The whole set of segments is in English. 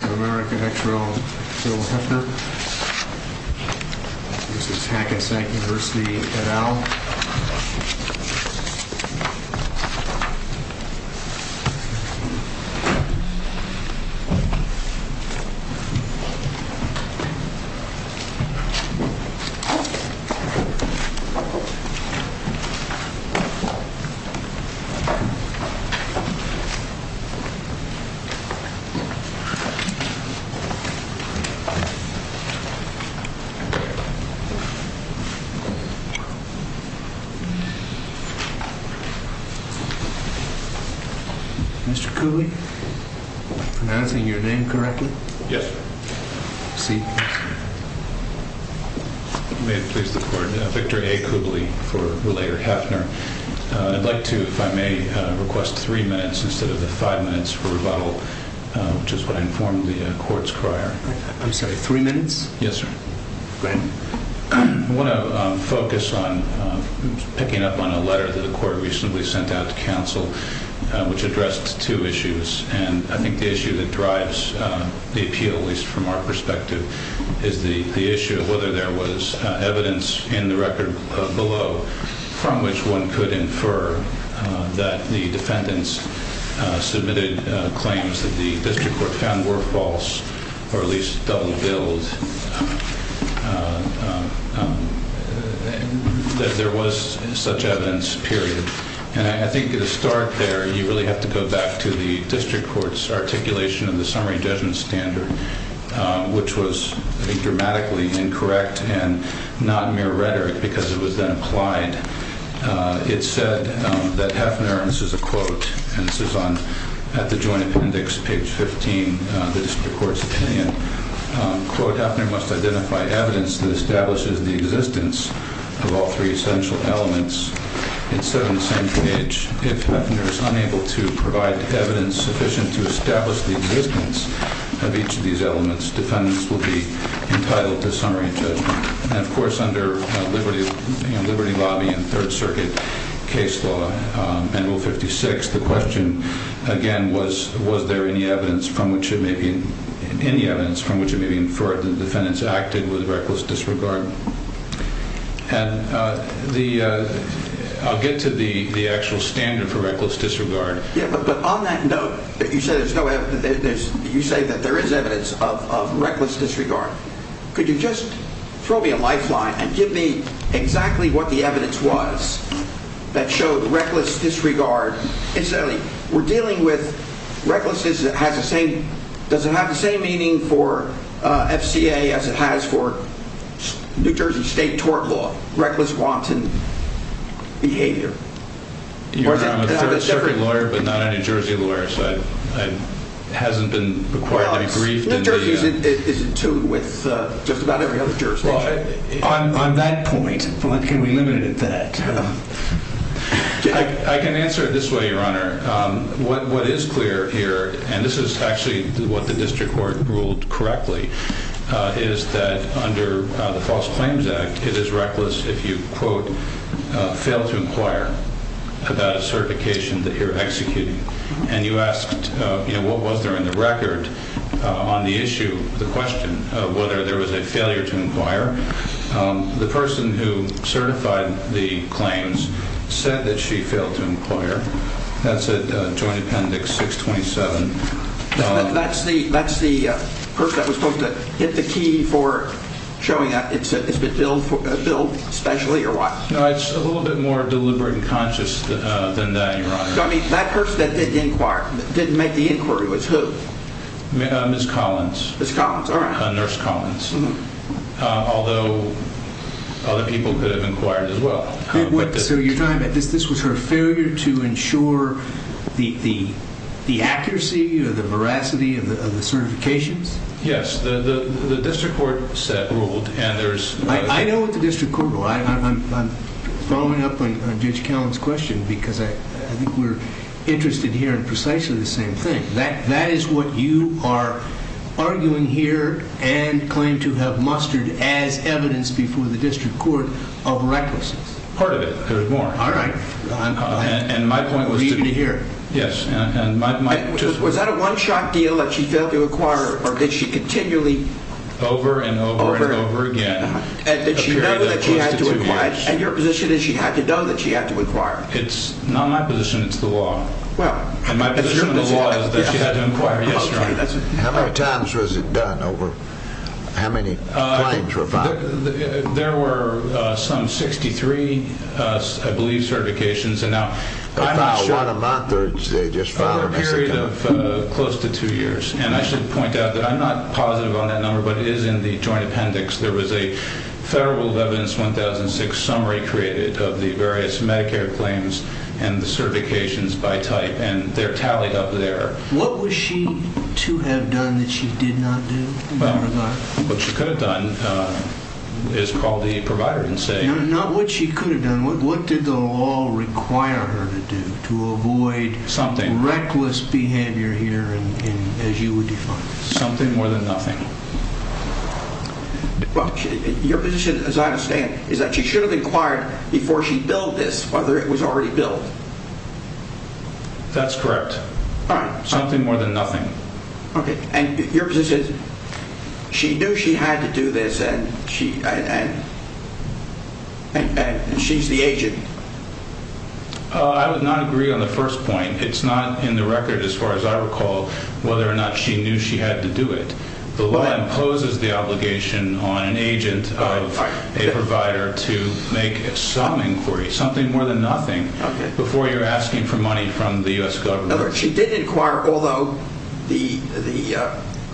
America Hector L. Hefner This is Hackensack University et al. Mr. Coobley, am I pronouncing your name correctly? Yes. Seat. May it please the court, Victor A. Coobley v. Hefner. I'd like to, if I may, request three minutes instead of the five minutes for rebuttal, which is what I informed the court's crier. I'm sorry, three minutes? Yes, sir. Go ahead. I want to focus on picking up on a letter that the court recently sent out to counsel, which addressed two issues. And I think the issue that drives the appeal, at least from our perspective, is the issue of whether there was evidence in the record below from which one could infer that the defendants submitted claims that the district court found were false or at least double-billed, that there was such evidence, period. And I think to start there, you really have to go back to the district court's articulation of the summary judgment standard, which was, I think, dramatically incorrect and not mere rhetoric because it was then applied. It said that Hefner, and this is a quote, and this is at the joint appendix, page 15, the district court's opinion, quote, Hefner must identify evidence that establishes the existence of all three essential elements. It said on the same page, if Hefner is unable to provide evidence sufficient to establish the existence of each of these elements, defendants will be entitled to summary judgment. And, of course, under Liberty Lobby and Third Circuit case law, manual 56, the question, again, was, was there any evidence from which it may be, any evidence from which it may be inferred that the defendants acted with reckless disregard? And the, I'll get to the actual standard for reckless disregard. Yeah, but on that note, that you said there's no evidence, you say that there is evidence of reckless disregard. Could you just throw me a lifeline and give me exactly what the evidence was that showed reckless disregard? Incidentally, we're dealing with recklessness that has the same, does it have the same meaning for FCA as it has for New Jersey State tort law, reckless wanton behavior? I'm a Third Circuit lawyer, but not a New Jersey lawyer, so it hasn't been required to be briefed. New Jersey is in tune with just about every other jurisdiction. On that point, can we limit it to that? I can answer it this way, Your Honor. What is clear here, and this is actually what the district court ruled correctly, is that under the False Claims Act, it is reckless if you, quote, fail to inquire about a certification that you're executing. And you asked, you know, what was there in the record on the issue, the question, whether there was a failure to inquire. The person who certified the claims said that she failed to inquire. That's at Joint Appendix 627. That's the person that was supposed to hit the key for showing that it's been billed specially or what? No, it's a little bit more deliberate and conscious than that, Your Honor. I mean, that person that didn't inquire, didn't make the inquiry, was who? Ms. Collins. Ms. Collins, all right. Nurse Collins, although other people could have inquired as well. So you're talking about this was her failure to ensure the accuracy or the veracity of the certifications? Yes. The district court ruled. I know what the district court ruled. I'm following up on Judge Callan's question because I think we're interested here in precisely the same thing. That is what you are arguing here and claim to have mustered as evidence before the district court of recklessness. Part of it. There's more. All right. And my point was to hear. Yes. And was that a one shot deal that she failed to acquire or did she continually? Over and over and over again. Did she know that she had to inquire? And your position is she had to know that she had to inquire. It's not my position. It's the law. My position in the law is that she had to inquire. How many times was it done? How many claims were filed? There were some 63, I believe, certifications. About what amount? A period of close to two years. And I should point out that I'm not positive on that number, but it is in the joint appendix. There was a Federal Evidence 1006 summary created of the various Medicare claims and the certifications by type. And they're tallied up there. What was she to have done that she did not do? What she could have done is call the provider and say. Not what she could have done. What did the law require her to do to avoid. Something. Reckless behavior here as you would define it. Something more than nothing. Your position, as I understand, is that she should have inquired before she billed this whether it was already billed. That's correct. Something more than nothing. Okay. And your position is she knew she had to do this and she's the agent. I would not agree on the first point. It's not in the record as far as I recall whether or not she knew she had to do it. The law imposes the obligation on an agent of a provider to make some inquiry, something more than nothing, before you're asking for money from the U.S. government. She did inquire, although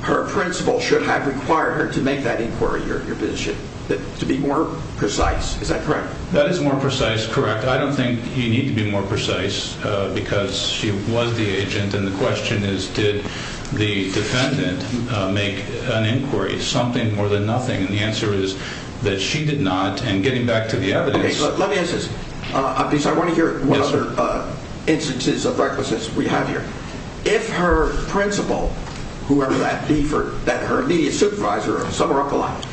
her principal should have required her to make that inquiry, your position, to be more precise. Is that correct? That is more precise, correct. I don't think you need to be more precise because she was the agent. And the question is did the defendant make an inquiry, something more than nothing? And the answer is that she did not. And getting back to the evidence. Okay. Let me ask this because I want to hear what other instances of recklessness we have here. If her principal, whoever that be, that her immediate supervisor, some are up a lot,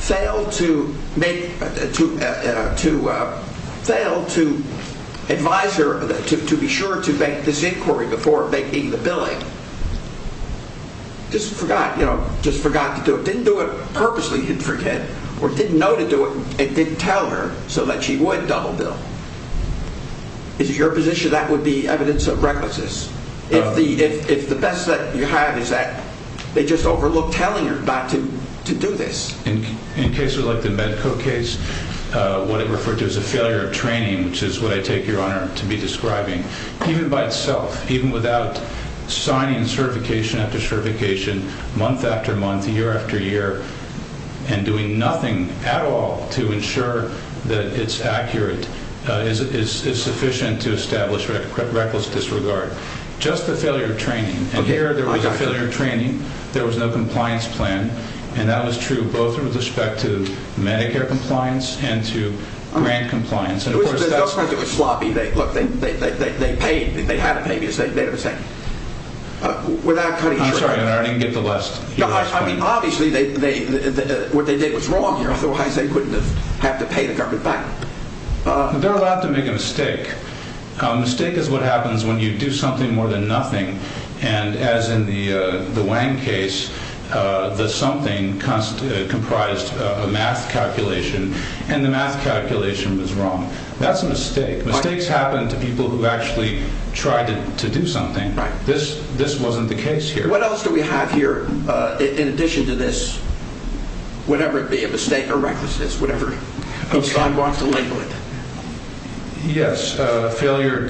failed to advise her to be sure to make this inquiry before making the billing, just forgot, you know, just forgot to do it. Didn't do it purposely, didn't forget, or didn't know to do it and didn't tell her so that she would double bill. Is it your position that would be evidence of recklessness? If the best that you have is that they just overlooked telling her not to do this? In cases like the Medco case, what it referred to as a failure of training, which is what I take your honor to be describing, even by itself, even without signing certification after certification, month after month, year after year, and doing nothing at all to ensure that it's accurate, is sufficient to establish reckless disregard. Just the failure of training. And here there was a failure of training. There was no compliance plan. And that was true both with respect to Medicare compliance and to grant compliance. It was sloppy. Look, they paid. They had to pay me. Without cutting. I didn't get the last. I mean, obviously, what they did was wrong here. I thought they wouldn't have to pay the government back. They're allowed to make a mistake. Mistake is what happens when you do something more than nothing. And as in the Wang case, the something comprised a math calculation. And the math calculation was wrong. That's a mistake. Mistakes happen to people who actually tried to do something. This wasn't the case here. What else do we have here in addition to this, whatever it be, a mistake or recklessness, whatever you want to label it? Yes. Failure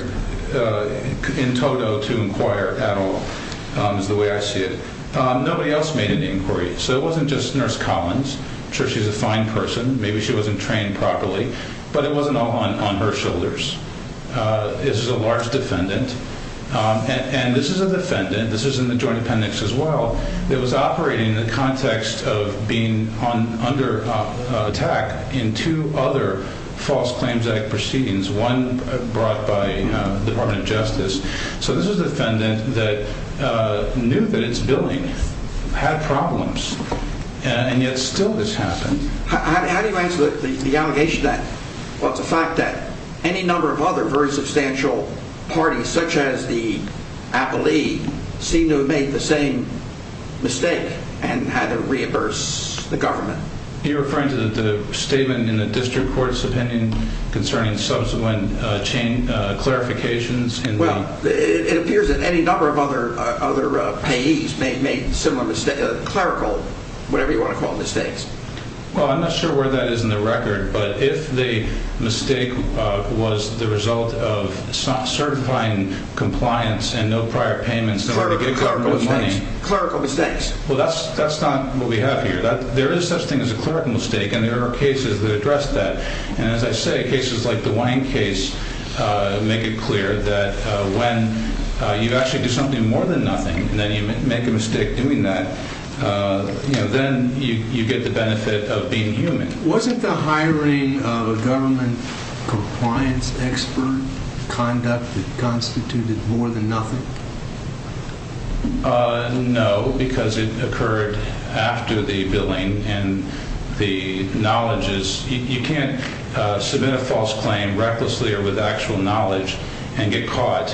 in total to inquire at all is the way I see it. Nobody else made an inquiry. So it wasn't just Nurse Collins. I'm sure she's a fine person. Maybe she wasn't trained properly. But it wasn't all on her shoulders. This is a large defendant. And this is a defendant. This is in the joint appendix as well. It was operating in the context of being under attack in two other false claims proceedings. One brought by the Department of Justice. So this is a defendant that knew that its billing had problems. And yet still this happened. How do you answer the allegation then? Well, it's a fact that any number of other very substantial parties, such as the appellee, seem to have made the same mistake and had to reimburse the government. Are you referring to the statement in the district court's opinion concerning subsequent clarifications? Well, it appears that any number of other payees may have made similar clerical, whatever you want to call it, mistakes. Well, I'm not sure where that is in the record. But if the mistake was the result of certifying compliance and no prior payments, no money. Clerical mistakes. Well, that's not what we have here. There is such a thing as a clerical mistake. And there are cases that address that. And as I say, cases like the Wine case make it clear that when you actually do something more than nothing and then you make a mistake doing that, then you get the benefit of being human. Wasn't the hiring of a government compliance expert conduct that constituted more than nothing? No, because it occurred after the billing and the knowledge is you can't submit a false claim recklessly or with actual knowledge and get caught,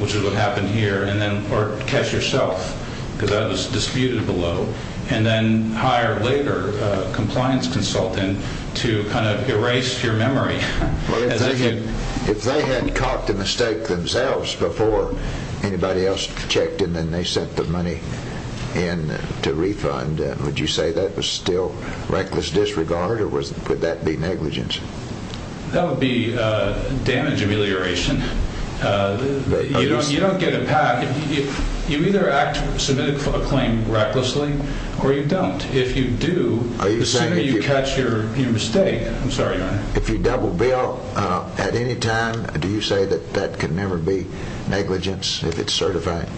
which is what happened here. Or catch yourself, because that was disputed below. And then hire later a compliance consultant to kind of erase your memory. If they had caught the mistake themselves before anybody else checked and then they sent the money in to refund, would you say that was still reckless disregard or would that be negligence? That would be damage amelioration. You don't get a path if you either submit a claim recklessly or you don't. If you do, are you saying you catch your mistake? I'm sorry. If you double bill at any time, do you say that that could never be negligence if it's certified?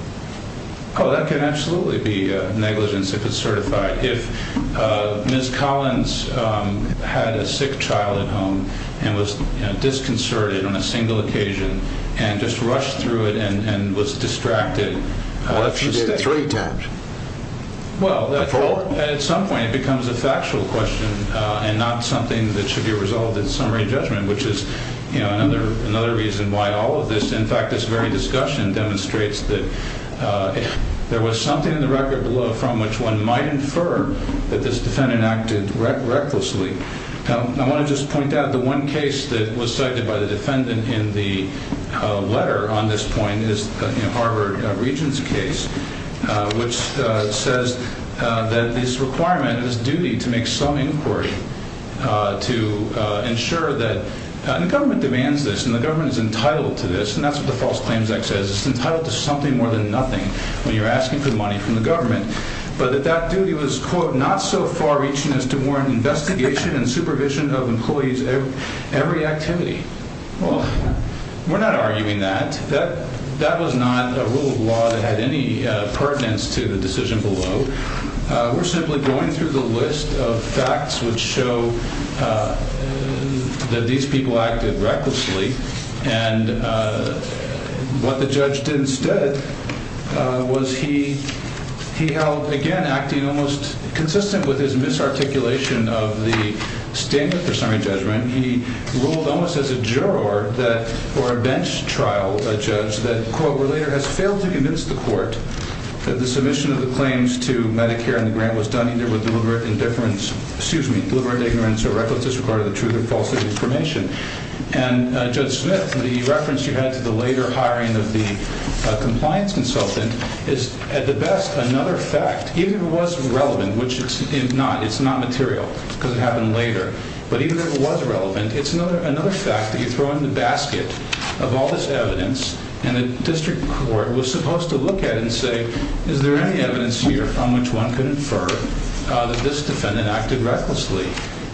Oh, that can absolutely be negligence. If Ms. Collins had a sick child at home and was disconcerted on a single occasion and just rushed through it and was distracted. Well, that should be three times. Well, at some point it becomes a factual question and not something that should be resolved in summary judgment, which is another reason why all of this. In fact, this very discussion demonstrates that there was something in the record below from which one might infer that this defendant acted recklessly. I want to just point out the one case that was cited by the defendant in the letter on this point is Harvard Regents case, which says that this requirement is duty to make some inquiry to ensure that the government demands this. And the government is entitled to this. And that's what the False Claims Act says. It's entitled to something more than nothing when you're asking for money from the government. But that that duty was, quote, not so far reaching as to warrant investigation and supervision of employees every activity. Well, we're not arguing that. That was not a rule of law that had any pertinence to the decision below. We're simply going through the list of facts which show that these people acted recklessly. And what the judge did instead was he he held, again, acting almost consistent with his misarticulation of the statement for summary judgment. He ruled almost as a juror or a bench trial judge that, quote, has failed to convince the court that the submission of the claims to Medicare and the grant was done either with deliberate indifference, excuse me, deliberate ignorance or reckless disregard of the truth and false information. And Judge Smith, the reference you had to the later hiring of the compliance consultant is at the best another fact. It was relevant, which it's not. It's not material because it happened later. But even if it was relevant, it's another another fact that you throw in the basket of all this evidence. And the district court was supposed to look at and say, is there any evidence here from which one could infer that this defendant acted recklessly?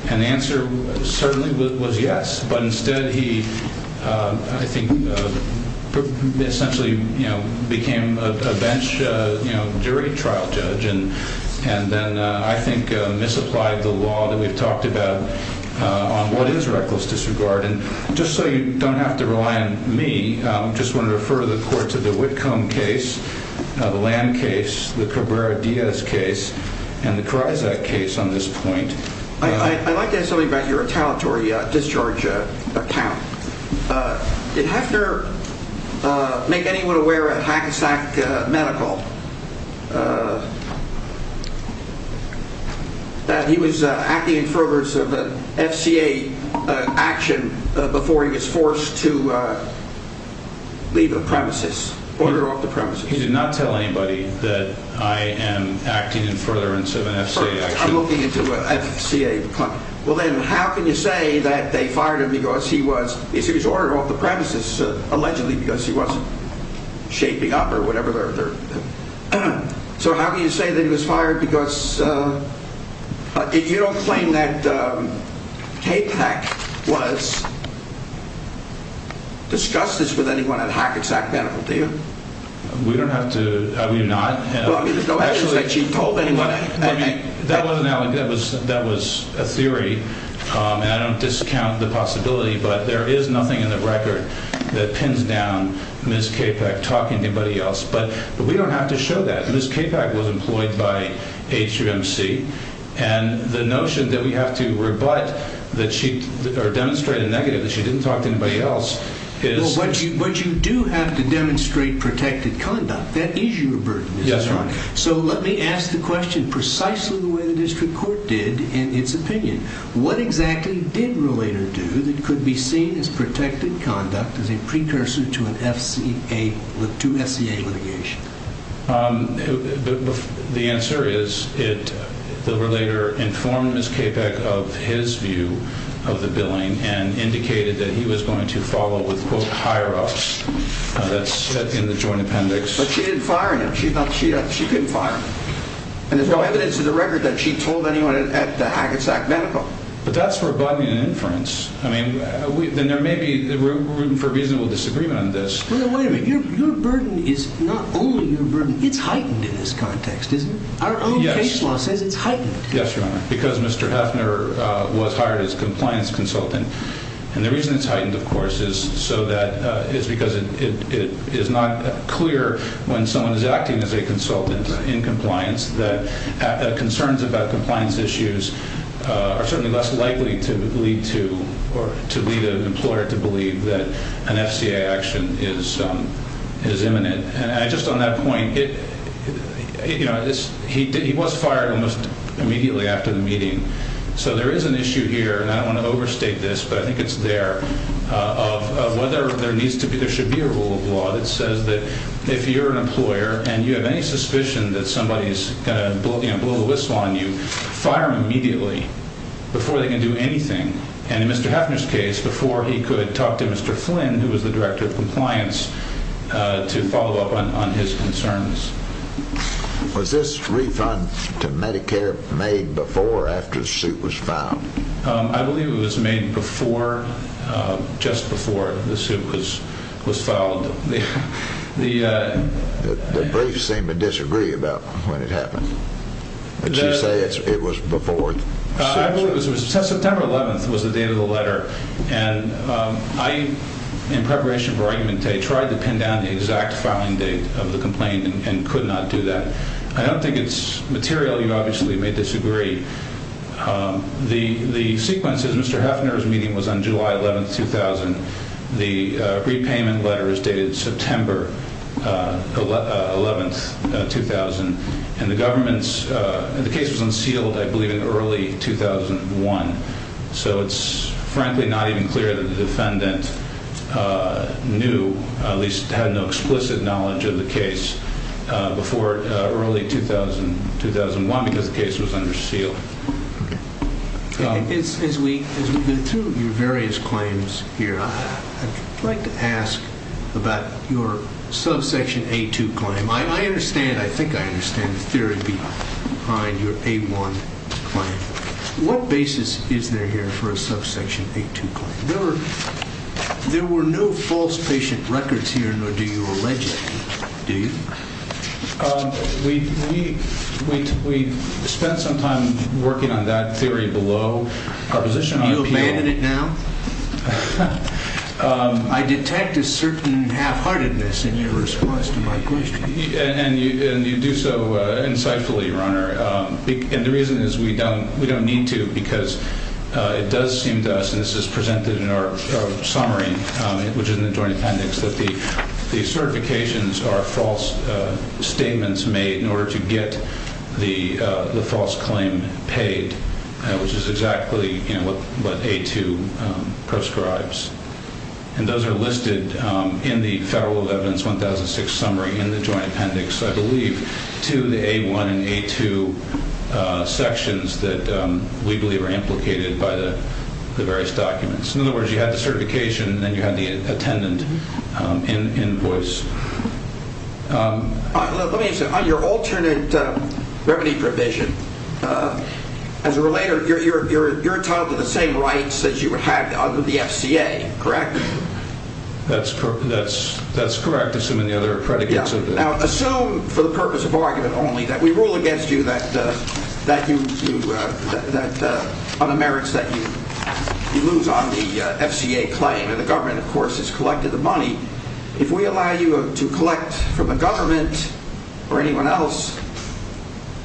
And the answer certainly was yes. But instead, he, I think, essentially became a bench jury trial judge. And and then I think misapplied the law that we've talked about on what is reckless disregard. And just so you don't have to rely on me, I just want to refer the court to the Whitcomb case. The land case, the Cabrera Diaz case and the crisis case on this point. I'd like to have something about your retaliatory discharge account. Did Hefner make anyone aware at Hackensack Medical that he was acting in furtherance of an FCA action before he was forced to leave the premises, order off the premises? He did not tell anybody that I am acting in furtherance of an FCA action. I'm looking into an FCA. Well, then how can you say that they fired him because he was ordered off the premises, allegedly because he wasn't shaping up or whatever? So how can you say that he was fired because you don't claim that K-Pak was discussed this with anyone at Hackensack Medical, do you? We don't have to. That was a theory. And I don't discount the possibility, but there is nothing in the record that pins down Ms. K-Pak talking to anybody else. But we don't have to show that. Ms. K-Pak was employed by HVMC. And the notion that we have to rebut or demonstrate a negative that she didn't talk to anybody else is... But you do have to demonstrate protected conduct. That is your burden. Yes, Your Honor. So let me ask the question precisely the way the district court did in its opinion. What exactly did Relator do that could be seen as protected conduct as a precursor to an FCA, to FCA litigation? The answer is the Relator informed Ms. K-Pak of his view of the billing and indicated that he was going to follow with, quote, higher-ups. That's in the joint appendix. But she didn't fire him. She couldn't fire him. And there's no evidence in the record that she told anyone at the Hackensack Medical. But that's rebutting an inference. I mean, there may be room for reasonable disagreement on this. Well, wait a minute. Your burden is not only your burden. It's heightened in this context, isn't it? Our own case law says it's heightened. Yes, Your Honor. Because Mr. Heffner was hired as compliance consultant. And the reason it's heightened, of course, is so that it's because it is not clear when someone is acting as a consultant in compliance that concerns about compliance issues are certainly less likely to lead to or to lead an employer to believe that an FCA action is imminent. And just on that point, you know, he was fired almost immediately after the meeting. So there is an issue here, and I don't want to overstate this, but I think it's there, of whether there needs to be, there should be a rule of law that says that if you're an employer and you have any suspicion that somebody is going to blow the whistle on you, fire them immediately before they can do anything. And in Mr. Heffner's case, before he could talk to Mr. Flynn, who was the director of compliance, to follow up on his concerns. Was this refund to Medicare made before or after the suit was filed? I believe it was made before, just before the suit was filed. The briefs seem to disagree about when it happened, but you say it was before the suit. I believe it was September 11th was the date of the letter. And I, in preparation for argument day, tried to pin down the exact filing date of the complaint and could not do that. I don't think it's material. You obviously may disagree. The sequence is Mr. Heffner's meeting was on July 11th, 2000. The repayment letter is dated September 11th, 2000. And the case was unsealed, I believe, in early 2001. So it's frankly not even clear that the defendant knew, at least had no explicit knowledge of the case, before early 2001 because the case was unsealed. As we go through your various claims here, I'd like to ask about your subsection A-2 claim. I understand, I think I understand the theory behind your A-1 claim. What basis is there here for a subsection A-2 claim? There were no false patient records here, nor do you allege any, do you? We spent some time working on that theory below. You abandon it now? I detect a certain half-heartedness in your response to my question. And you do so insightfully, Your Honor. And the reason is we don't need to because it does seem to us, and this is presented in our summary, which is in the Joint Appendix, that the certifications are false statements made in order to get the false claim paid, which is exactly what A-2 proscribes. And those are listed in the Federal Evidence 1006 summary in the Joint Appendix, I believe, to the A-1 and A-2 sections that we believe are implicated by the various documents. In other words, you have the certification and then you have the attendant invoice. Let me ask you, on your alternate remedy provision, as a relator, you're entitled to the same rights as you had under the FCA, correct? That's correct, assuming the other predicates are there. Now, assume, for the purpose of argument only, that we rule against you on the merits that you lose on the FCA claim. And the government, of course, has collected the money. If we allow you to collect from the government or anyone else,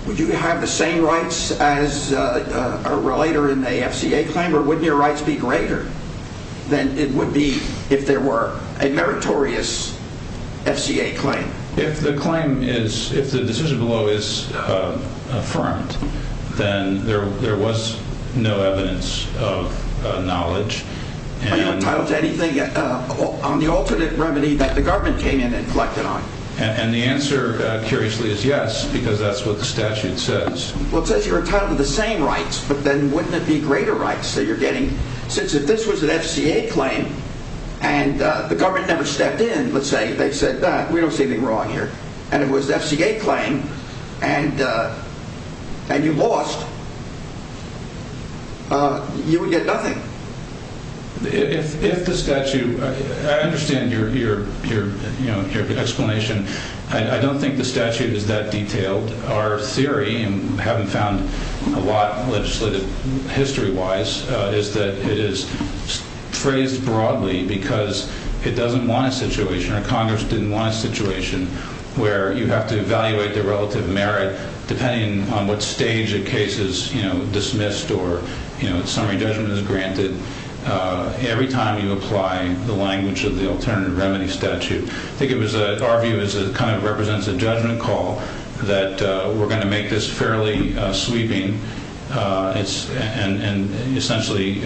would you have the same rights as a relator in the FCA claim? Or wouldn't your rights be greater than it would be if there were a meritorious FCA claim? If the claim is, if the decision below is affirmed, then there was no evidence of knowledge. Are you entitled to anything on the alternate remedy that the government came in and collected on? And the answer, curiously, is yes, because that's what the statute says. Well, it says you're entitled to the same rights, but then wouldn't it be greater rights that you're getting? Since if this was an FCA claim and the government never stepped in, let's say, they said, we don't see anything wrong here, and it was an FCA claim and you lost, you would get nothing. If the statute, I understand your explanation. I don't think the statute is that detailed. Our theory, and we haven't found a lot legislative history-wise, is that it is phrased broadly because it doesn't want a situation or Congress didn't want a situation where you have to evaluate the relative merit depending on what stage a case is dismissed or summary judgment is granted every time you apply the language of the alternative remedy statute. I think it was, our view is it kind of represents a judgment call that we're going to make this fairly sweeping, and essentially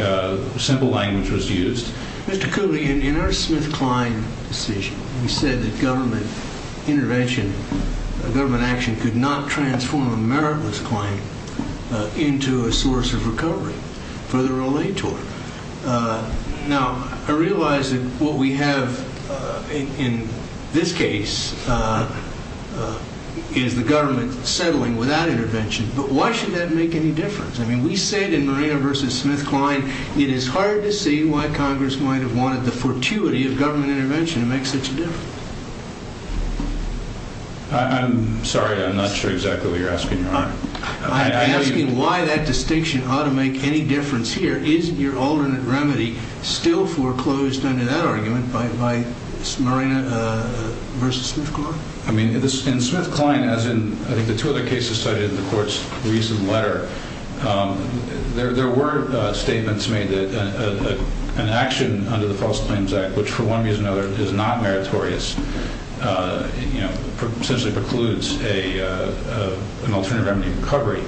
simple language was used. Mr. Cooley, in our Smith-Klein decision, we said that government intervention, government action, could not transform a meritless claim into a source of recovery for the relator. Now, I realize that what we have in this case is the government settling without intervention, but why should that make any difference? I mean, we said in Marina v. Smith-Klein, it is hard to see why Congress might have wanted the fortuity of government intervention to make such a difference. I'm sorry, I'm not sure exactly what you're asking, Your Honor. I'm asking why that distinction ought to make any difference here. Isn't your alternate remedy still foreclosed under that argument by Marina v. Smith-Klein? I mean, in Smith-Klein, as in I think the two other cases cited in the Court's recent letter, there were statements made that an action under the False Claims Act, which for one reason or another is not meritorious, essentially precludes an alternative remedy recovery.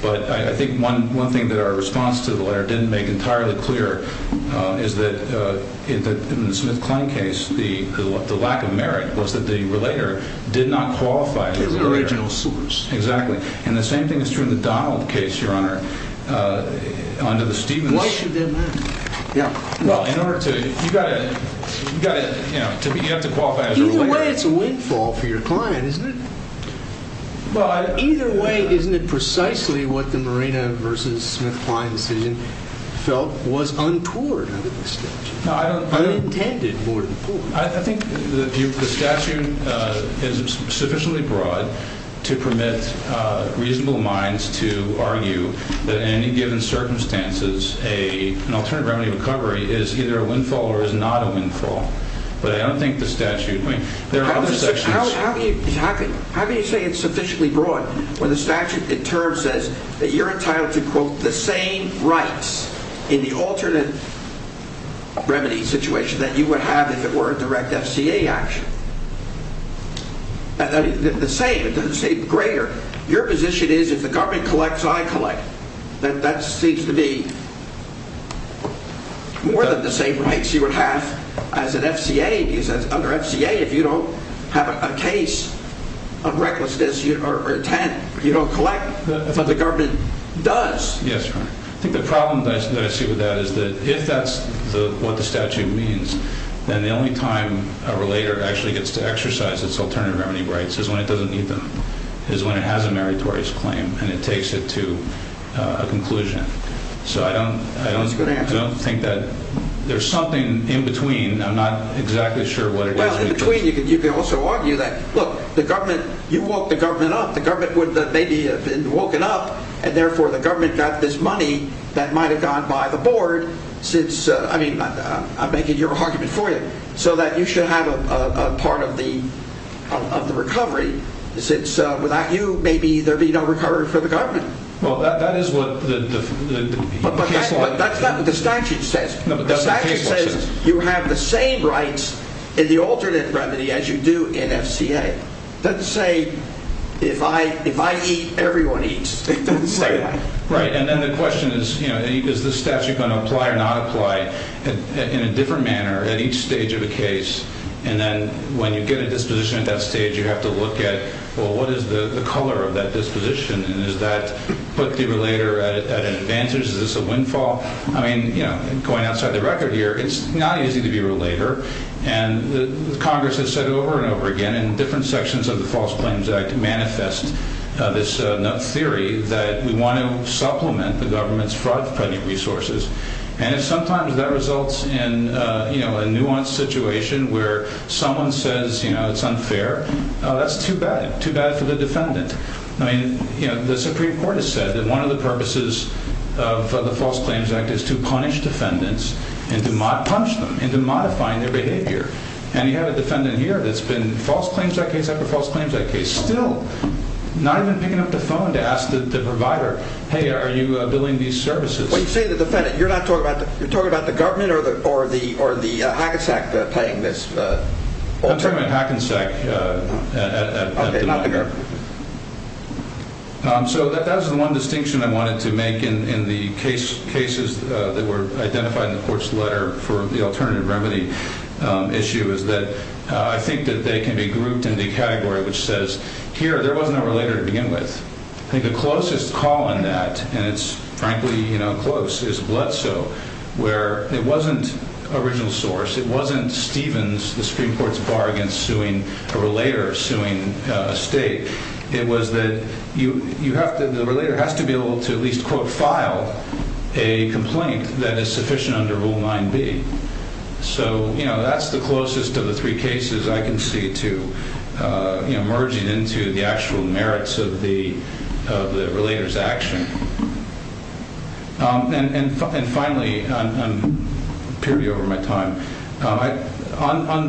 But I think one thing that our response to the letter didn't make entirely clear is that in the Smith-Klein case, the lack of merit was that the relator did not qualify as a relator. The original source. Exactly. And the same thing is true in the Donald case, Your Honor, under the Stevens. Why should that matter? Well, in order to, you've got to, you know, you have to qualify as a relator. Either way, it's a windfall for your client, isn't it? Either way, isn't it precisely what the Marina v. Smith-Klein decision felt was untoward under this statute? Unintended, more than poor. I think the statute is sufficiently broad to permit reasonable minds to argue that in any given circumstances an alternative remedy recovery is either a windfall or is not a windfall. But I don't think the statute, I mean, there are other sections. How can you say it's sufficiently broad when the statute in turn says that you're entitled to, quote, the same rights in the alternate remedy situation that you would have if it were a direct FCA action? The same, it doesn't say greater. Your position is if the government collects, I collect. That seems to be more than the same rights you would have as an FCA. Because under FCA, if you don't have a case of recklessness or intent, you don't collect. But the government does. Yes, I think the problem that I see with that is that if that's what the statute means, then the only time a relator actually gets to exercise its alternative remedy rights is when it doesn't need them, is when it has a meritorious claim and it takes it to a conclusion. So I don't think that there's something in between. I'm not exactly sure what it is. Well, in between you could also argue that, look, the government, you woke the government up. The government would maybe have been woken up and therefore the government got this money that might have gone by the board since, I mean, I'm making your argument for you, so that you should have a part of the recovery since without you maybe there'd be no recovery for the government. Well, that is what the case law says. But that's not what the statute says. No, but that's what the case law says. The statute says you have the same rights in the alternate remedy as you do in FCA. It doesn't say if I eat, everyone eats. It doesn't say that. Right. And then the question is, you know, is the statute going to apply or not apply in a different manner at each stage of a case? And then when you get a disposition at that stage, you have to look at, well, what is the color of that disposition? And is that, put the relator at an advantage? Is this a windfall? I mean, you know, going outside the record here, it's not easy to be a relator. And Congress has said over and over again in different sections of the False Claims Act manifest this theory that we want to supplement the government's fraud-funding resources. And if sometimes that results in, you know, a nuanced situation where someone says, you know, it's unfair, that's too bad. Too bad for the defendant. I mean, you know, the Supreme Court has said that one of the purposes of the False Claims Act is to punish defendants and to modify their behavior. And you have a defendant here that's been False Claims Act case after False Claims Act case still not even picking up the phone to ask the provider, hey, are you billing these services? When you say the defendant, you're not talking about, you're talking about the government or the Hackensack paying this? I'm talking about Hackensack at the moment. Okay, not the government. So that was the one distinction I wanted to make in the cases that were identified in the court's letter for the alternative remedy issue, is that I think that they can be grouped into a category which says, here, there was no relator to begin with. I think the closest call on that, and it's frankly, you know, close, is Bledsoe, where it wasn't original source. It wasn't Stevens, the Supreme Court's bargain suing a relator suing a state. It was that you have to, the relator has to be able to at least, quote, file a complaint that is sufficient under Rule 9B. So, you know, that's the closest of the three cases I can see to, you know, merging into the actual merits of the relator's action. And finally, I'm period over my time, on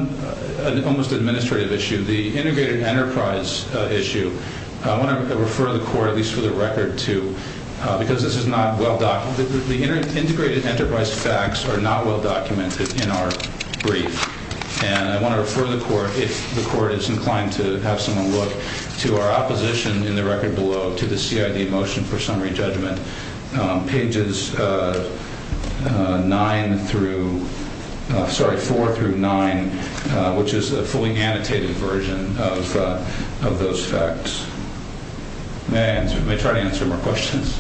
an almost administrative issue, the integrated enterprise issue, I want to refer the court, at least for the record, to, because this is not well documented, the integrated enterprise facts are not well documented in our brief, and I want to refer the court, if the court is inclined to have someone look, to our opposition, in the record below, to the CID motion for summary judgment, pages 9 through, sorry, 4 through 9, which is a fully annotated version of those facts. May I answer, may I try to answer more questions?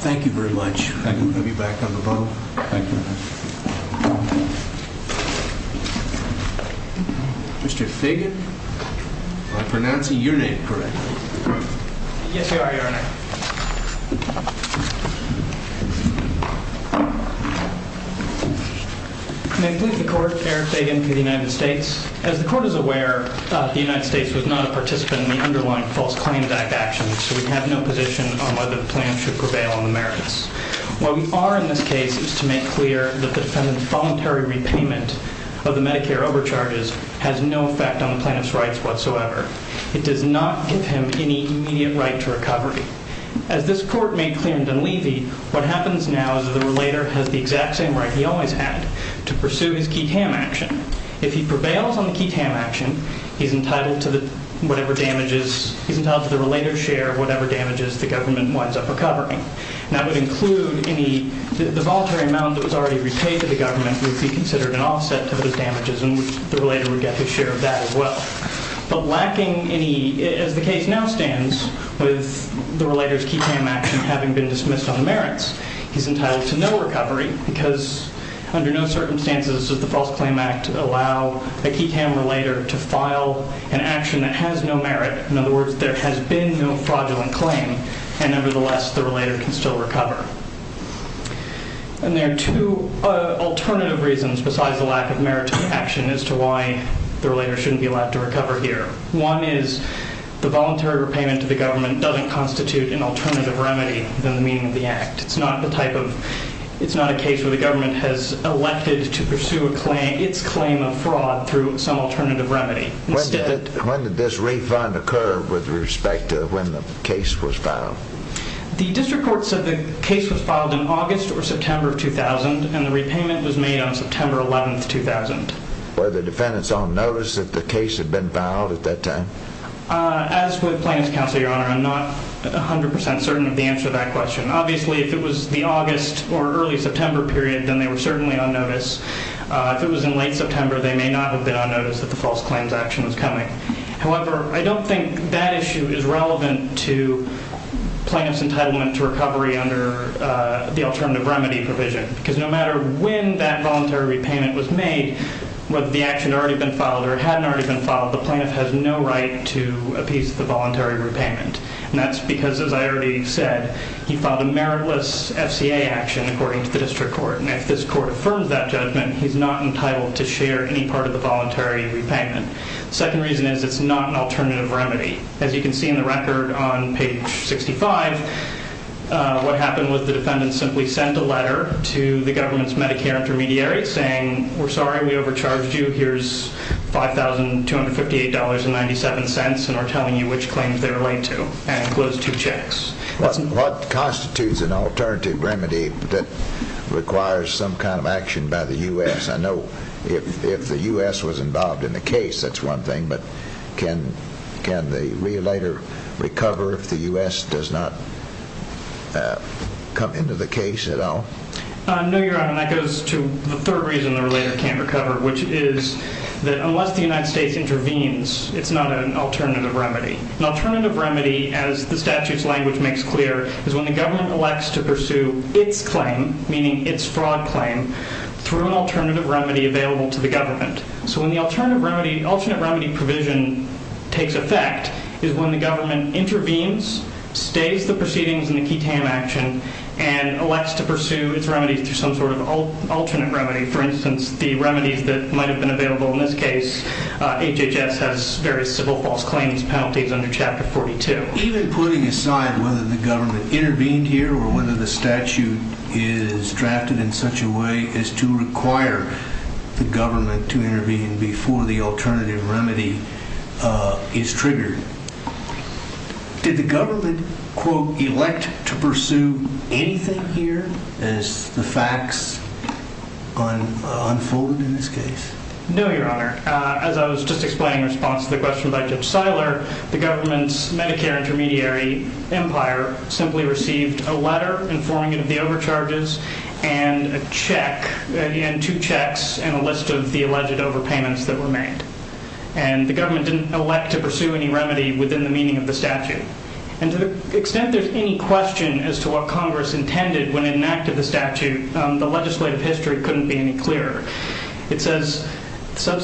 Thank you very much. Thank you. We'll be back up above. Thank you. Mr. Fagan, am I pronouncing your name correctly? Yes, Your Honor. May it please the court, Eric Fagan for the United States. As the court is aware, the United States was not a participant in the underlying False Claims Act action, so we have no position on whether the plan should prevail on the merits. What we are in this case is to make clear that the defendant's voluntary repayment of the Medicare overcharges has no effect on the plaintiff's rights whatsoever. It does not give him any immediate right to recovery. As this court made clear in Dunleavy, what happens now is that the relator has the exact same right he always had, to pursue his Keat-Ham action. If he prevails on the Keat-Ham action, he's entitled to whatever damages, he's entitled to the relator's share of whatever damages the government winds up recovering. That would include any, the voluntary amount that was already repaid to the government would be considered an offset to those damages, and the relator would get his share of that as well. But lacking any, as the case now stands, with the relator's Keat-Ham action having been dismissed on the merits, he's entitled to no recovery because under no circumstances does the False Claims Act allow a Keat-Ham relator to file an action that has no merit. In other words, there has been no fraudulent claim, and nevertheless, the relator can still recover. And there are two alternative reasons besides the lack of merit to the action as to why the relator shouldn't be allowed to recover here. One is the voluntary repayment to the government doesn't constitute an alternative remedy than the meaning of the act. It's not the type of, it's not a case where the government has elected to pursue a claim, its claim of fraud through some alternative remedy. When did this refund occur with respect to when the case was filed? The district court said the case was filed in August or September of 2000, and the repayment was made on September 11th, 2000. Were the defendants on notice that the case had been filed at that time? As with plaintiff's counsel, Your Honor, I'm not 100% certain of the answer to that question. Obviously, if it was the August or early September period, then they were certainly on notice. If it was in late September, they may not have been on notice that the false claims action was coming. However, I don't think that issue is relevant to plaintiff's entitlement to recovery under the alternative remedy provision because no matter when that voluntary repayment was made, whether the action had already been filed or hadn't already been filed, the plaintiff has no right to appease the voluntary repayment. And that's because, as I already said, he filed a meritless FCA action according to the district court. And if this court affirms that judgment, he's not entitled to share any part of the voluntary repayment. The second reason is it's not an alternative remedy. As you can see in the record on page 65, what happened was the defendants simply sent a letter to the government's Medicare intermediary saying, we're sorry we overcharged you. Here's $5,258.97 and are telling you which claims they're linked to and closed two checks. What constitutes an alternative remedy that requires some kind of action by the U.S.? I know if the U.S. was involved in the case, that's one thing. But can the relator recover if the U.S. does not come into the case at all? No, Your Honor, that goes to the third reason the relator can't recover, which is that unless the United States intervenes, it's not an alternative remedy. An alternative remedy, as the statute's language makes clear, is when the government elects to pursue its claim, meaning its fraud claim, through an alternative remedy available to the government. So when the alternate remedy provision takes effect is when the government intervenes, stays the proceedings in the key TAM action, and elects to pursue its remedy through some sort of alternate remedy. For instance, the remedies that might have been available in this case, HHS has various civil false claims penalties under Chapter 42. Even putting aside whether the government intervened here or whether the statute is drafted in such a way as to require the government to intervene before the alternative remedy is triggered, did the government, quote, elect to pursue anything here as the facts unfolded in this case? No, Your Honor. As I was just explaining in response to the question by Judge Seiler, the government's Medicare intermediary, Empire, simply received a letter informing it of the overcharges and a check, and two checks, and a list of the alleged overpayments that were made. And the government didn't elect to pursue any remedy within the meaning of the statute. And to the extent there's any question as to what Congress intended when it enacted the statute, the legislative history couldn't be any clearer. It says the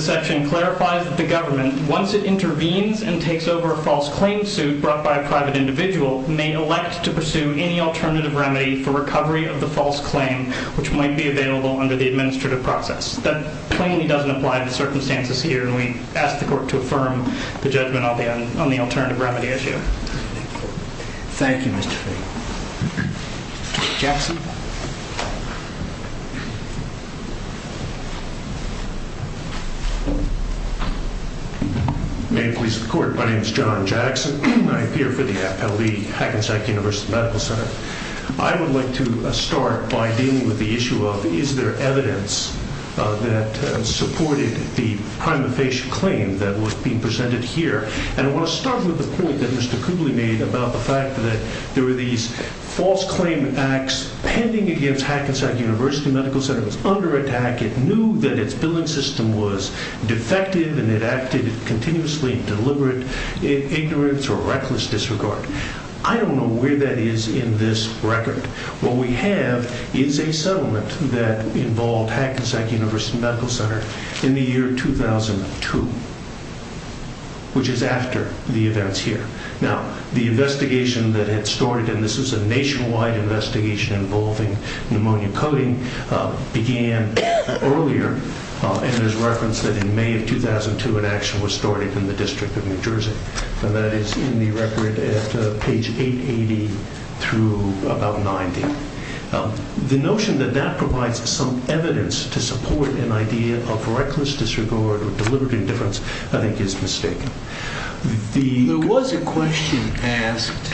section clarifies that the government, once it intervenes and takes over a false claim suit brought by a private individual, may elect to pursue any alternative remedy for recovery of the false claim which might be available under the administrative process. That plainly doesn't apply to the circumstances here, and we ask the Court to affirm the judgment on the alternative remedy issue. Thank you, Mr. Fahy. Jackson. May it please the Court, my name is John Jackson. I appear for the Appellee, Hackensack University Medical Center. I would like to start by dealing with the issue of, is there evidence that supported the prima facie claim that was being presented here? And I want to start with the point that Mr. Cooley made about the fact that there were these false claim acts pending against Hackensack University Medical Center. It was under attack, it knew that its billing system was defective and it acted continuously in deliberate ignorance or reckless disregard. I don't know where that is in this record. What we have is a settlement that involved Hackensack University Medical Center in the year 2002, which is after the events here. Now, the investigation that had started, and this is a nationwide investigation involving pneumonia coding, began earlier, and there's reference that in May of 2002, an action was started in the District of New Jersey. And that is in the record at page 880 through about 90. The notion that that provides some evidence to support an idea of reckless disregard or deliberate indifference, I think, is mistaken. There was a question asked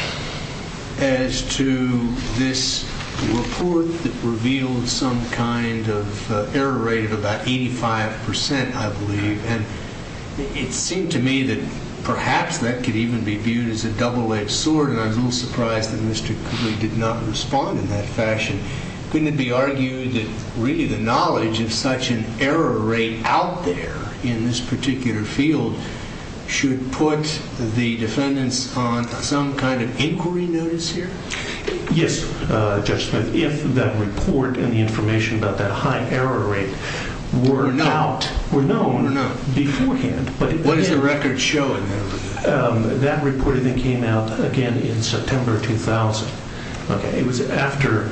as to this report that revealed some kind of error rate of about 85%, I believe, and it seemed to me that perhaps that could even be viewed as a double-edged sword, and I was a little surprised that Mr. Cooley did not respond in that fashion. Couldn't it be argued that really the knowledge of such an error rate out there in this particular field should put the defendants on some kind of inquiry notice here? Yes, Judge Smith, if that report and the information about that high error rate were known beforehand. What is the record showing? That report came out again in September 2000. It was after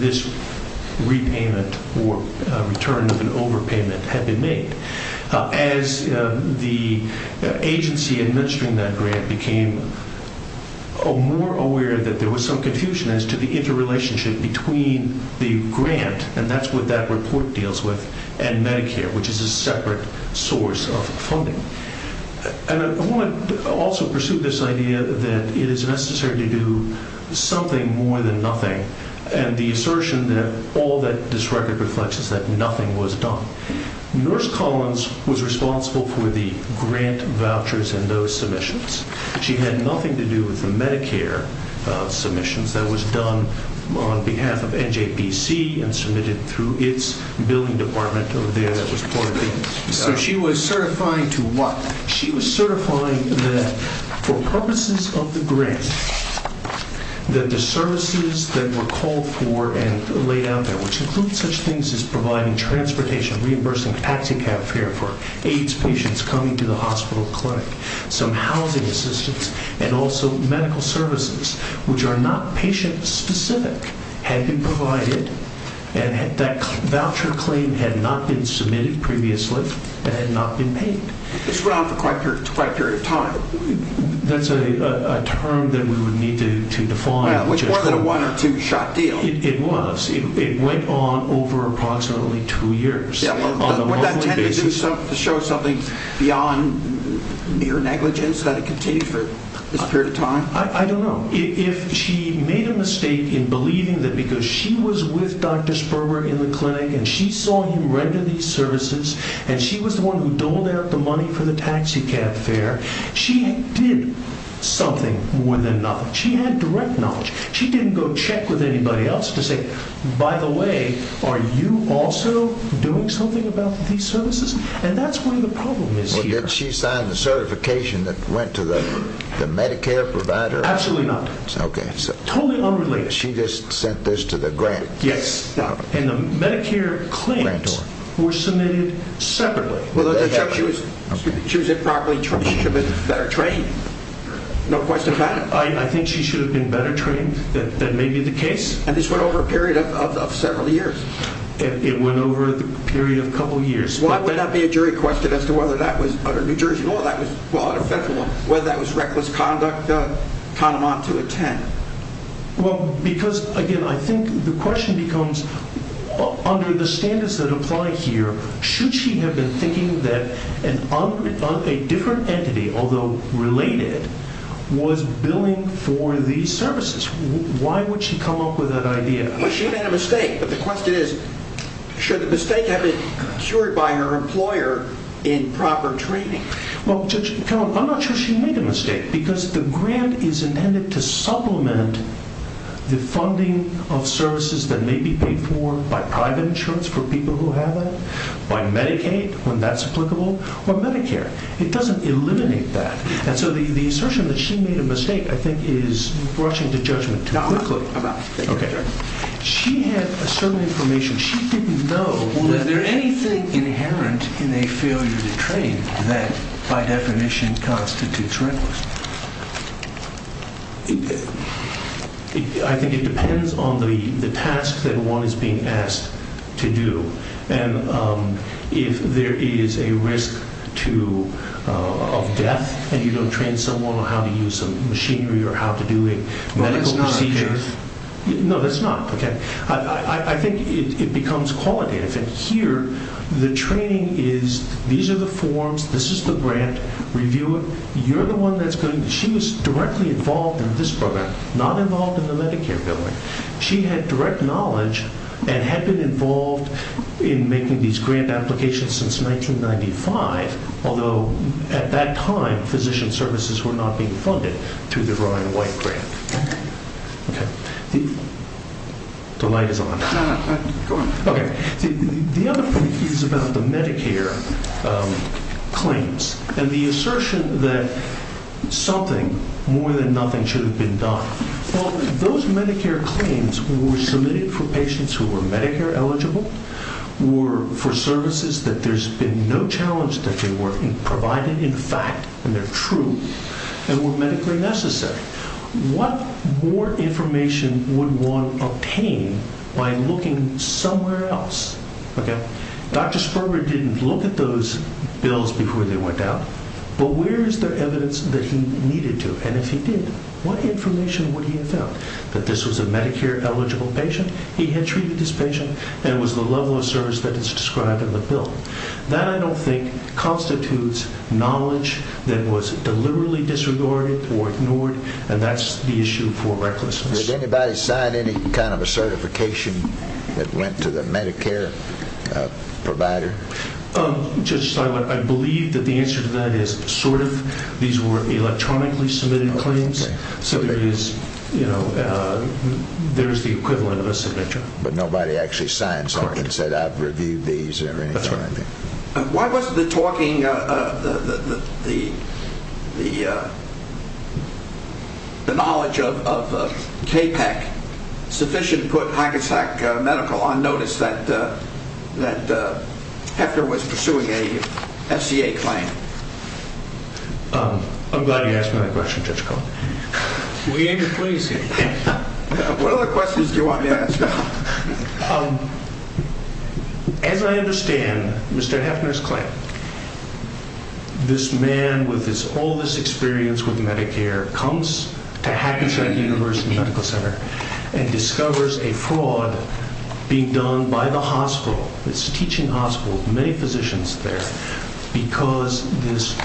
this repayment or return of an overpayment had been made. As the agency administering that grant became more aware that there was some confusion as to the interrelationship between the grant, and that's what that report deals with, and Medicare, which is a separate source of funding. I want to also pursue this idea that it is necessary to do something more than nothing, and the assertion that all that this record reflects is that nothing was done. Nurse Collins was responsible for the grant vouchers and those submissions. She had nothing to do with the Medicare submissions that was done on behalf of NJPC and submitted through its billing department over there that was part of it. So she was certifying to what? She was certifying that for purposes of the grant, that the services that were called for and laid out there, which include such things as providing transportation, reimbursing taxi cab fare for AIDS patients coming to the hospital clinic, some housing assistance, and also medical services, which are not patient-specific, had been provided and that voucher claim had not been submitted previously and had not been paid. This went on for quite a period of time. That's a term that we would need to define. Which wasn't a one or two-shot deal. It was. It went on over approximately two years. Would that tend to show something beyond mere negligence that it continued for this period of time? I don't know. If she made a mistake in believing that because she was with Dr. Sperber in the clinic and she saw him render these services and she was the one who doled out the money for the taxi cab fare, she did something more than nothing. She had direct knowledge. She didn't go check with anybody else to say, by the way, are you also doing something about these services? And that's where the problem is here. Well, did she sign the certification that went to the Medicare provider? Absolutely not. Okay. Totally unrelated. She just sent this to the grant. Yes. And the Medicare claims were submitted separately. So she was improperly trained. She should have been better trained. No question about it. I think she should have been better trained. That may be the case. And this went over a period of several years. It went over a period of a couple years. Why would that be a jury question as to whether that was utter New Jersey law? Whether that was reckless conduct? Well, because, again, I think the question becomes, under the standards that apply here, should she have been thinking that a different entity, although related, was billing for these services? Why would she come up with that idea? Well, she made a mistake. But the question is, should the mistake have been cured by her employer in proper training? Well, Judge Carroll, I'm not sure she made a mistake, because the grant is intended to supplement the funding of services that may be paid for by private insurance for people who have that, by Medicaid, when that's applicable, or Medicare. It doesn't eliminate that. And so the assertion that she made a mistake, I think, is rushing to judgment too quickly. Not really. Okay. She had a certain information. She didn't know. Well, is there anything inherent in a failure to train that, by definition, constitutes recklessness? I think it depends on the task that one is being asked to do. And if there is a risk of death and you don't train someone on how to use some machinery or how to do a medical procedure. Well, that's not our case. No, that's not. Okay. I think it becomes qualitative. And here, the training is, these are the forms, this is the grant, review it. You're the one that's going to... She was directly involved in this program, not involved in the Medicare bill. She had direct knowledge and had been involved in making these grant applications since 1995, although at that time, physician services were not being funded through the Ryan White grant. Okay. Okay. The light is on. No, no, go on. Okay. The other thing is about the Medicare claims and the assertion that something, more than nothing, should have been done. Well, those Medicare claims were submitted for patients who were Medicare eligible, were for services that there's been no challenge that they were provided, in fact, and they're true, and were medically necessary. What more information would one obtain by looking somewhere else? Okay. Dr. Sperber didn't look at those bills before they went out, but where is there evidence that he needed to? And if he did, what information would he have found? That this was a Medicare eligible patient, he had treated this patient, and it was the level of service that is described in the bill. That, I don't think, constitutes knowledge that was deliberately disregarded or ignored and that's the issue for recklessness. Did anybody sign any kind of a certification that went to the Medicare provider? Judge Steinle, I believe that the answer to that is sort of. These were electronically submitted claims, so there is the equivalent of a signature. But nobody actually signed something and said, I've reviewed these or anything like that. Why wasn't the talking, the knowledge of KPEC sufficient to put Hackensack Medical on notice that Hefner was pursuing a FCA claim? I'm glad you asked me that question, Judge Cohn. We aim to please you. What other questions do you want me to ask? As I understand Mr. Hefner's claim, this man with all this experience with Medicare comes to Hackensack University Medical Center and discovers a fraud being done by the hospital, this teaching hospital with many physicians there, because this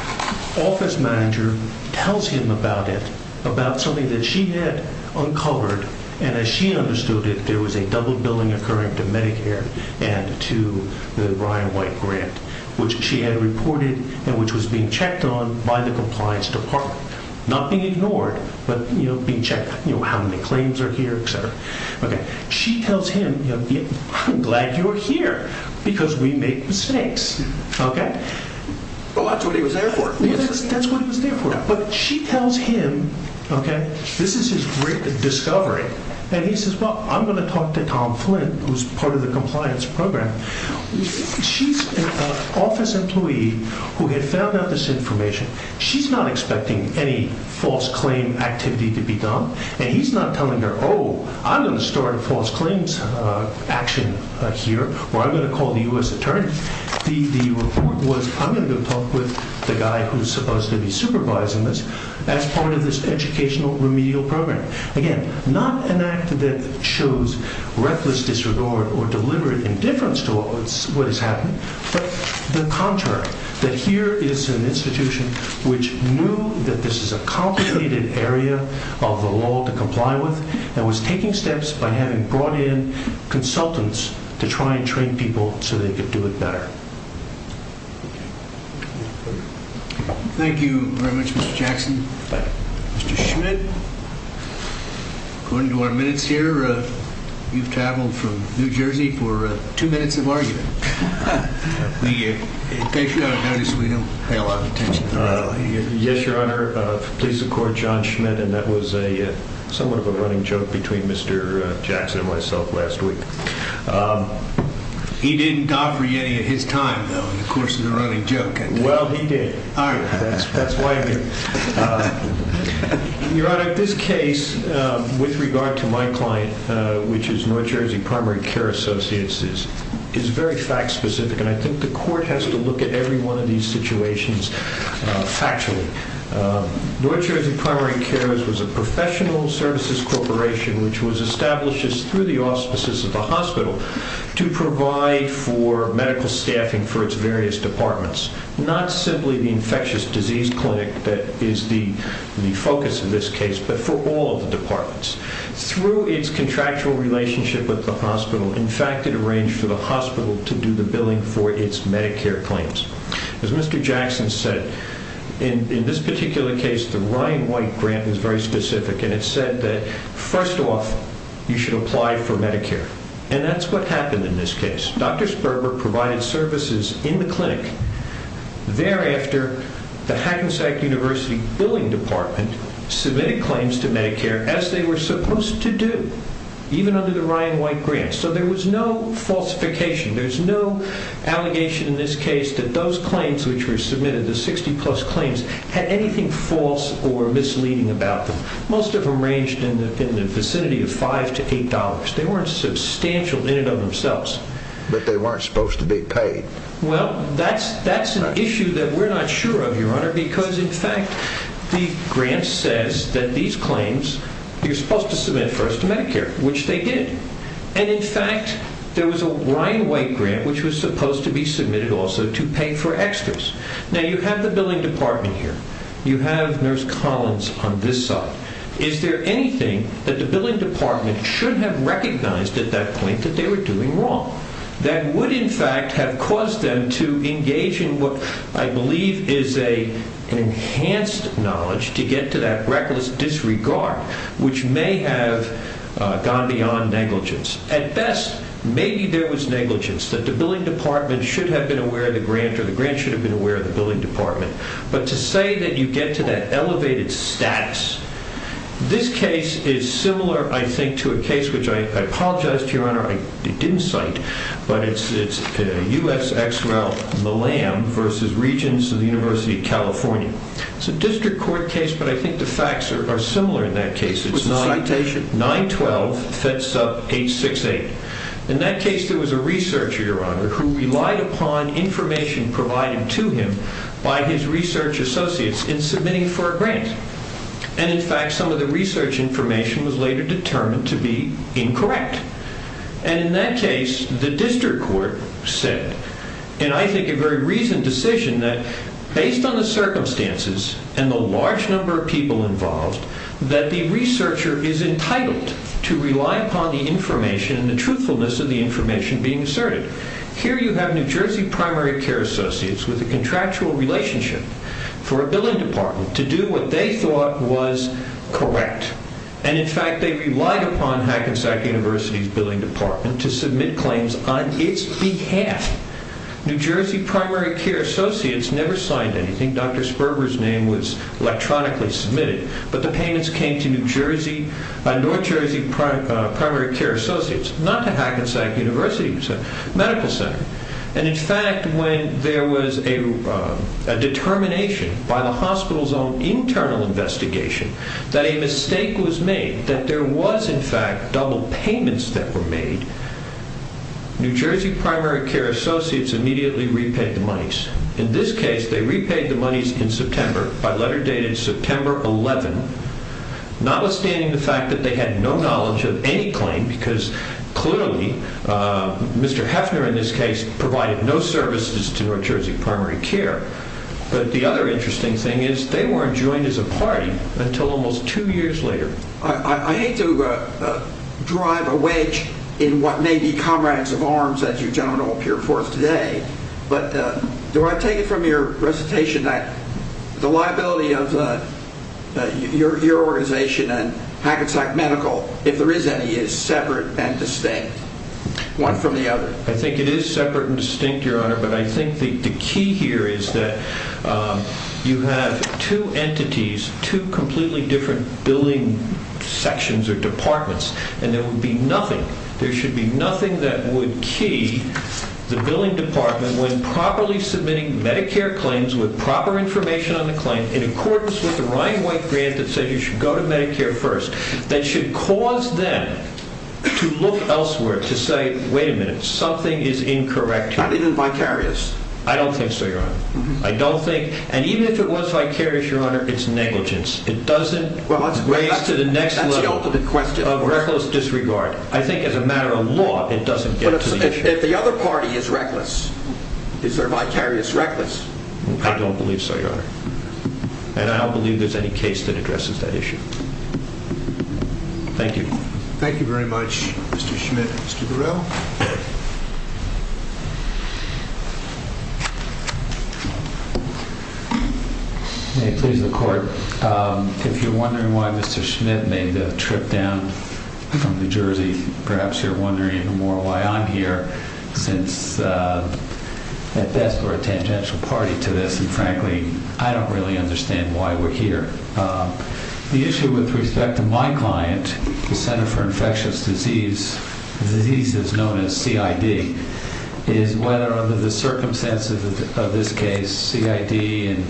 office manager tells him about it, about something that she had uncovered, and as she understood it, there was a double billing occurring to Medicare and to the Brian White grant, which she had reported and which was being checked on by the compliance department. Not being ignored, but being checked, how many claims are here, etc. She tells him, I'm glad you're here because we make mistakes. That's what he was there for. That's what he was there for. But she tells him, okay, this is his great discovery, and he says, well, I'm going to talk to Tom Flint, who's part of the compliance program. She's an office employee who had found out this information. She's not expecting any false claim activity to be done, and he's not telling her, oh, I'm going to start false claims action here, or I'm going to call the U.S. Attorney. The report was, I'm going to go talk with the guy who's supposed to be supervising this as part of this educational remedial program. Again, not an act that shows reckless disregard or deliberate indifference to what has happened, but the contrary, that here is an institution which knew that this is a complicated area of the law to comply with and was taking steps by having brought in consultants to try and train people so they could do it better. Thank you very much, Mr. Jackson. Mr. Schmidt, according to our minutes here, you've traveled from New Jersey for two minutes of argument. In case you haven't noticed, we don't pay a lot of attention to that. Yes, Your Honor. Please record John Schmidt, and that was somewhat of a running joke between Mr. Jackson and myself last week. He didn't offer you any of his time, though, in the course of the running joke. Well, he did. All right. That's why I'm here. Your Honor, this case, with regard to my client, which is North Jersey Primary Care Associates, is very fact-specific, and I think the court has to look at every one of these situations factually. North Jersey Primary Care was a professional services corporation, which was established through the auspices of the hospital to provide for medical staffing for its various departments, not simply the infectious disease clinic that is the focus of this case, but for all of the departments. Through its contractual relationship with the hospital, in fact, it arranged for the hospital to do the billing for its Medicare claims. As Mr. Jackson said, in this particular case, the Ryan White grant was very specific, and it said that, first off, you should apply for Medicare, and that's what happened in this case. Dr. Sperber provided services in the clinic. Thereafter, the Hackensack University billing department submitted claims to Medicare as they were supposed to do, even under the Ryan White grant, so there was no falsification. There's no allegation in this case that those claims which were submitted, the 60-plus claims, had anything false or misleading about them. Most of them ranged in the vicinity of $5 to $8. They weren't substantial in and of themselves. But they weren't supposed to be paid. Well, that's an issue that we're not sure of, Your Honor, because, in fact, the grant says that these claims, you're supposed to submit first to Medicare, which they did. And, in fact, there was a Ryan White grant which was supposed to be submitted also to pay for extras. Now, you have the billing department here. You have Nurse Collins on this side. Is there anything that the billing department should have recognized at that point that they were doing wrong that would, in fact, have caused them to engage in what I believe is an enhanced knowledge to get to that reckless disregard, which may have gone beyond negligence? At best, maybe there was negligence, that the billing department should have been aware of the grant or the grant should have been aware of the billing department. But to say that you get to that elevated status, this case is similar, I think, to a case, which I apologize to you, Your Honor, I didn't cite, but it's USXL Malam versus Regents of the University of California. It's a district court case, but I think the facts are similar in that case. It was a citation. 912, fed sub 868. In that case, there was a researcher, Your Honor, who relied upon information provided to him by his research associates in submitting for a grant. And in fact, some of the research information was later determined to be incorrect. And in that case, the district court said, and I think a very recent decision, that based on the circumstances and the large number of people involved, that the researcher is entitled to rely upon the information and the truthfulness of the information being asserted. Here you have New Jersey primary care associates with a contractual relationship for a billing department to do what they thought was correct. And in fact, they relied upon Hackensack University's billing department to submit claims on its behalf. New Jersey primary care associates never signed anything. Dr. Sperber's name was electronically submitted. But the payments came to New Jersey primary care associates, not to Hackensack University Medical Center. And in fact, when there was a determination by the hospital's own internal investigation that a mistake was made, that there was, in fact, double payments that were made, New Jersey primary care associates immediately repaid the monies. In this case, they repaid the monies in September by letter dated September 11, notwithstanding the fact that they had no knowledge of any claim, because clearly Mr. Heffner, in this case, provided no services to New Jersey primary care. But the other interesting thing is they weren't joined as a party until almost two years later. I hate to drive a wedge in what may be comrades of arms, as you gentlemen all appear forth today, but do I take it from your recitation that the liability of your organization and Hackensack Medical, if there is any, is separate and distinct, one from the other? I think it is separate and distinct, Your Honor. But I think the key here is that you have two entities, two completely different billing sections or departments, and there would be nothing, there should be nothing that would key the billing department when properly submitting Medicare claims with proper information on the claim in accordance with the Ryan White grant that says you should go to Medicare first. That should cause them to look elsewhere to say, wait a minute, something is incorrect here. Not even vicarious? I don't think so, Your Honor. I don't think, and even if it was vicarious, Your Honor, it's negligence. It doesn't raise to the next level of reckless disregard. I think as a matter of law, it doesn't get to the issue. But if the other party is reckless, is their vicarious reckless? I don't believe so, Your Honor. And I don't believe there's any case that addresses that issue. Thank you. Thank you very much, Mr. Schmidt. Mr. Burrell? May it please the Court, if you're wondering why Mr. Schmidt made the trip down from New Jersey, perhaps you're wondering even more why I'm here, since at best we're a tangential party to this, and frankly, I don't really understand why we're here. The issue with respect to my client, the Center for Infectious Diseases, known as CID, is whether under the circumstances of this case, CID and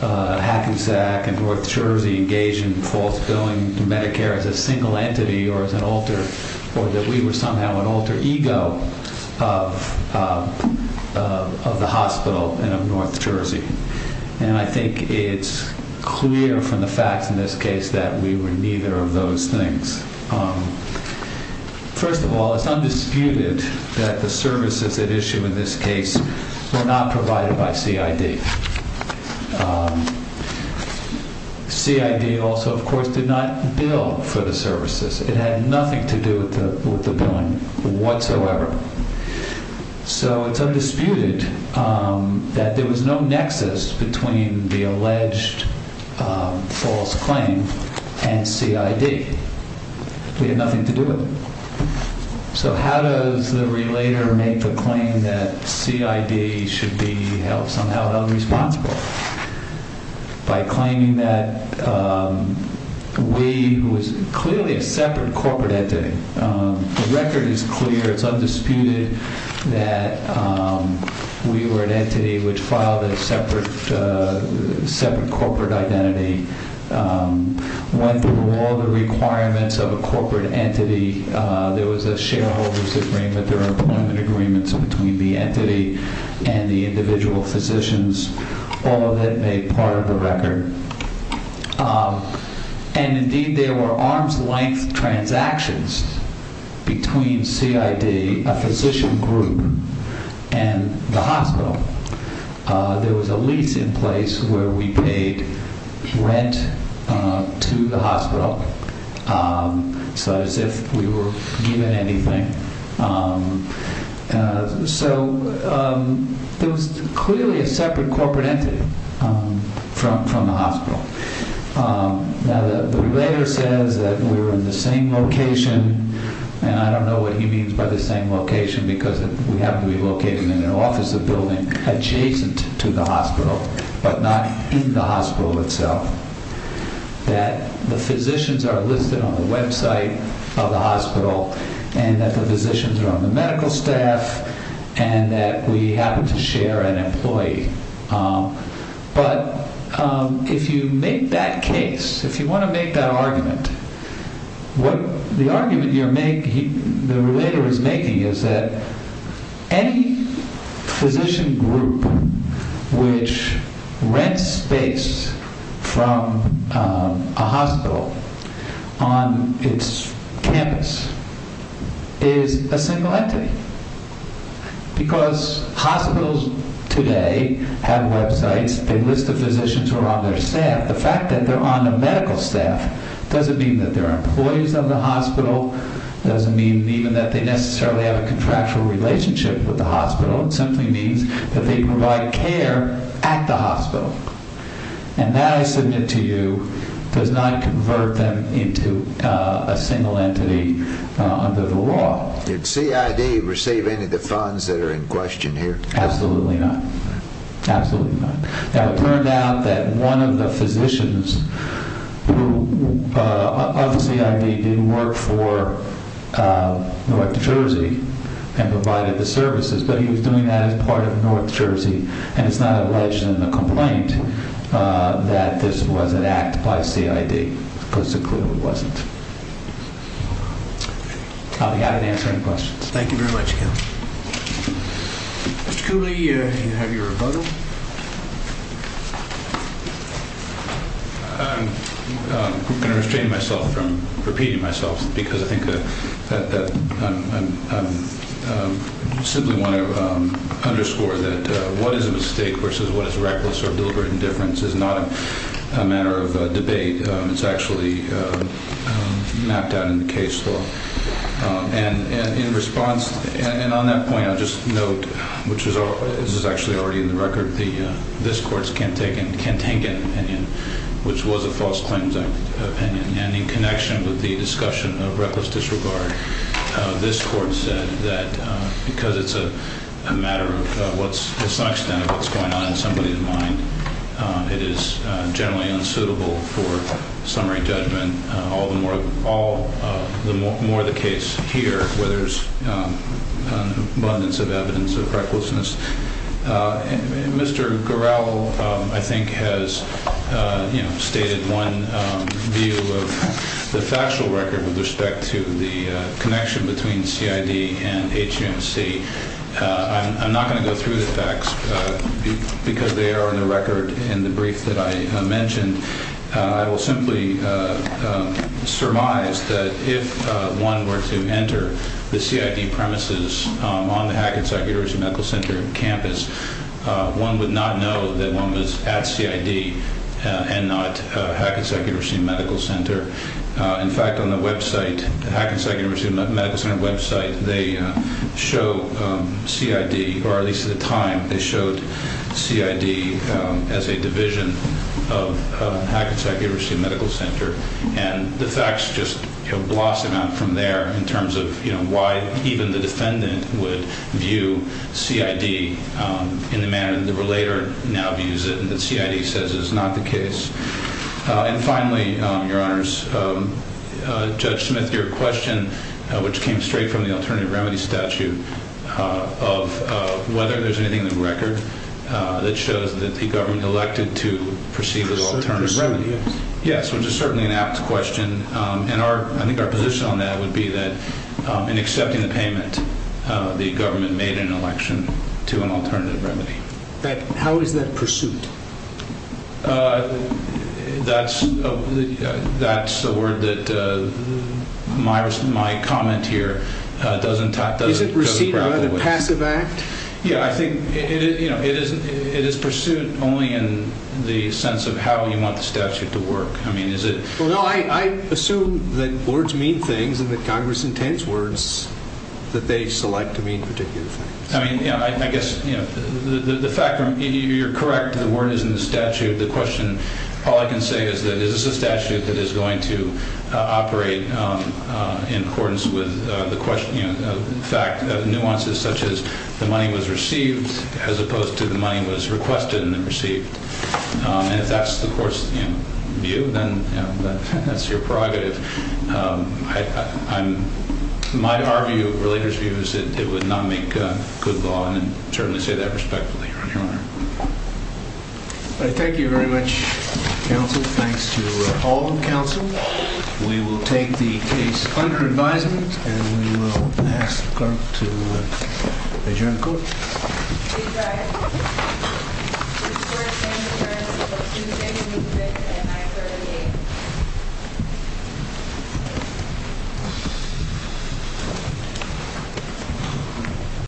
HACU-SAC and North Jersey actually engage in false billing to Medicare as a single entity or as an alter, or that we were somehow an alter ego of the hospital and of North Jersey. And I think it's clear from the facts in this case that we were neither of those things. First of all, it's undisputed that the services at issue in this case were not provided by CID. CID also, of course, did not bill for the services. It had nothing to do with the billing whatsoever. So it's undisputed that there was no nexus between the alleged false claim and CID. So how does the relator make the claim that CID should be held somehow held responsible? By claiming that we was clearly a separate corporate entity. The record is clear. It's undisputed that we were an entity which filed a separate corporate identity, went through all the requirements of a corporate entity. There was a shareholders agreement. There are employment agreements between the entity and the individual physicians. All of that made part of the record. And indeed, there were arm's length transactions between CID, a physician group, and the hospital. There was a lease in place where we paid rent to the hospital. So as if we were given anything. So there was clearly a separate corporate entity from the hospital. Now the relator says that we were in the same location. And I don't know what he means by the same location, because we happen to be located in an office building adjacent to the hospital, but not in the hospital itself. That the physicians are listed on the website of the hospital, and that the physicians are on the medical staff, and that we happen to share an employee. But if you make that case, if you want to make that argument, the argument the relator is making is that any physician group which rents space from a hospital on its campus is a single entity. Because hospitals today have websites, they list the physicians who are on their staff. The fact that they're on the medical staff doesn't mean that they're employees of the hospital, doesn't mean even that they necessarily have a contractual relationship with the hospital. It simply means that they provide care at the hospital. And that, I submit to you, does not convert them into a single entity under the law. Did CID receive any of the funds that are in question here? Absolutely not. Absolutely not. Now, it turned out that one of the physicians of CID didn't work for North Jersey and provided the services, but he was doing that as part of North Jersey. And it's not alleged in the complaint that this was an act by CID, because it clearly wasn't. I'll be happy to answer any questions. Thank you very much, Ken. Mr. Cooley, you have your rebuttal. I'm going to restrain myself from repeating myself, because I think that I simply want to underscore that what is a mistake versus what is reckless or deliberate indifference is not a matter of debate. It's actually mapped out in the case law. And in response, and on that point I'll just note, which is actually already in the record, this court's Kentengan opinion, which was a false claims opinion. And in connection with the discussion of reckless disregard, this court said that because it's a matter of what's, to some extent, of what's going on in somebody's mind, it is generally unsuitable for summary judgment. All the more the case here, where there's abundance of evidence of recklessness. Mr. Gural, I think, has stated one view of the factual record with respect to the connection between CID and HMC. I'm not going to go through the facts, because they are in the record in the brief that I mentioned. I will simply surmise that if one were to enter the CID premises on the Hackensack University Medical Center campus, one would not know that one was at CID and not Hackensack University Medical Center. In fact, on the website, the Hackensack University Medical Center website, they show CID, or at least at the time, they showed CID as a division of Hackensack University Medical Center. And the facts just blossom out from there in terms of why even the defendant would view CID in the manner that the relator now views it, and that CID says is not the case. And finally, Your Honors, Judge Smith, your question, which came straight from the alternative remedy statute, of whether there's anything in the record that shows that the government elected to proceed with alternative remedy. Yes, which is certainly an apt question. And I think our position on that would be that in accepting the payment, the government made an election to an alternative remedy. How is that pursued? That's a word that my comment here doesn't touch. Is it received on a passive act? Yeah, I think it is pursued only in the sense of how you want the statute to work. Well, no, I assume that words mean things and that Congress intends words that they select to mean particular things. I mean, I guess the fact that you're correct, the word is in the statute, the question, all I can say is that this is a statute that is going to operate in accordance with the fact that nuances such as the money was received as opposed to the money was requested and then received. And if that's the court's view, then that's your prerogative. My, our view, relator's view is that it would not make good law. And I certainly say that respectfully, Your Honor. Thank you very much, counsel. Thanks to all the counsel. We will take the case under advisement and we will ask her to adjourn the court.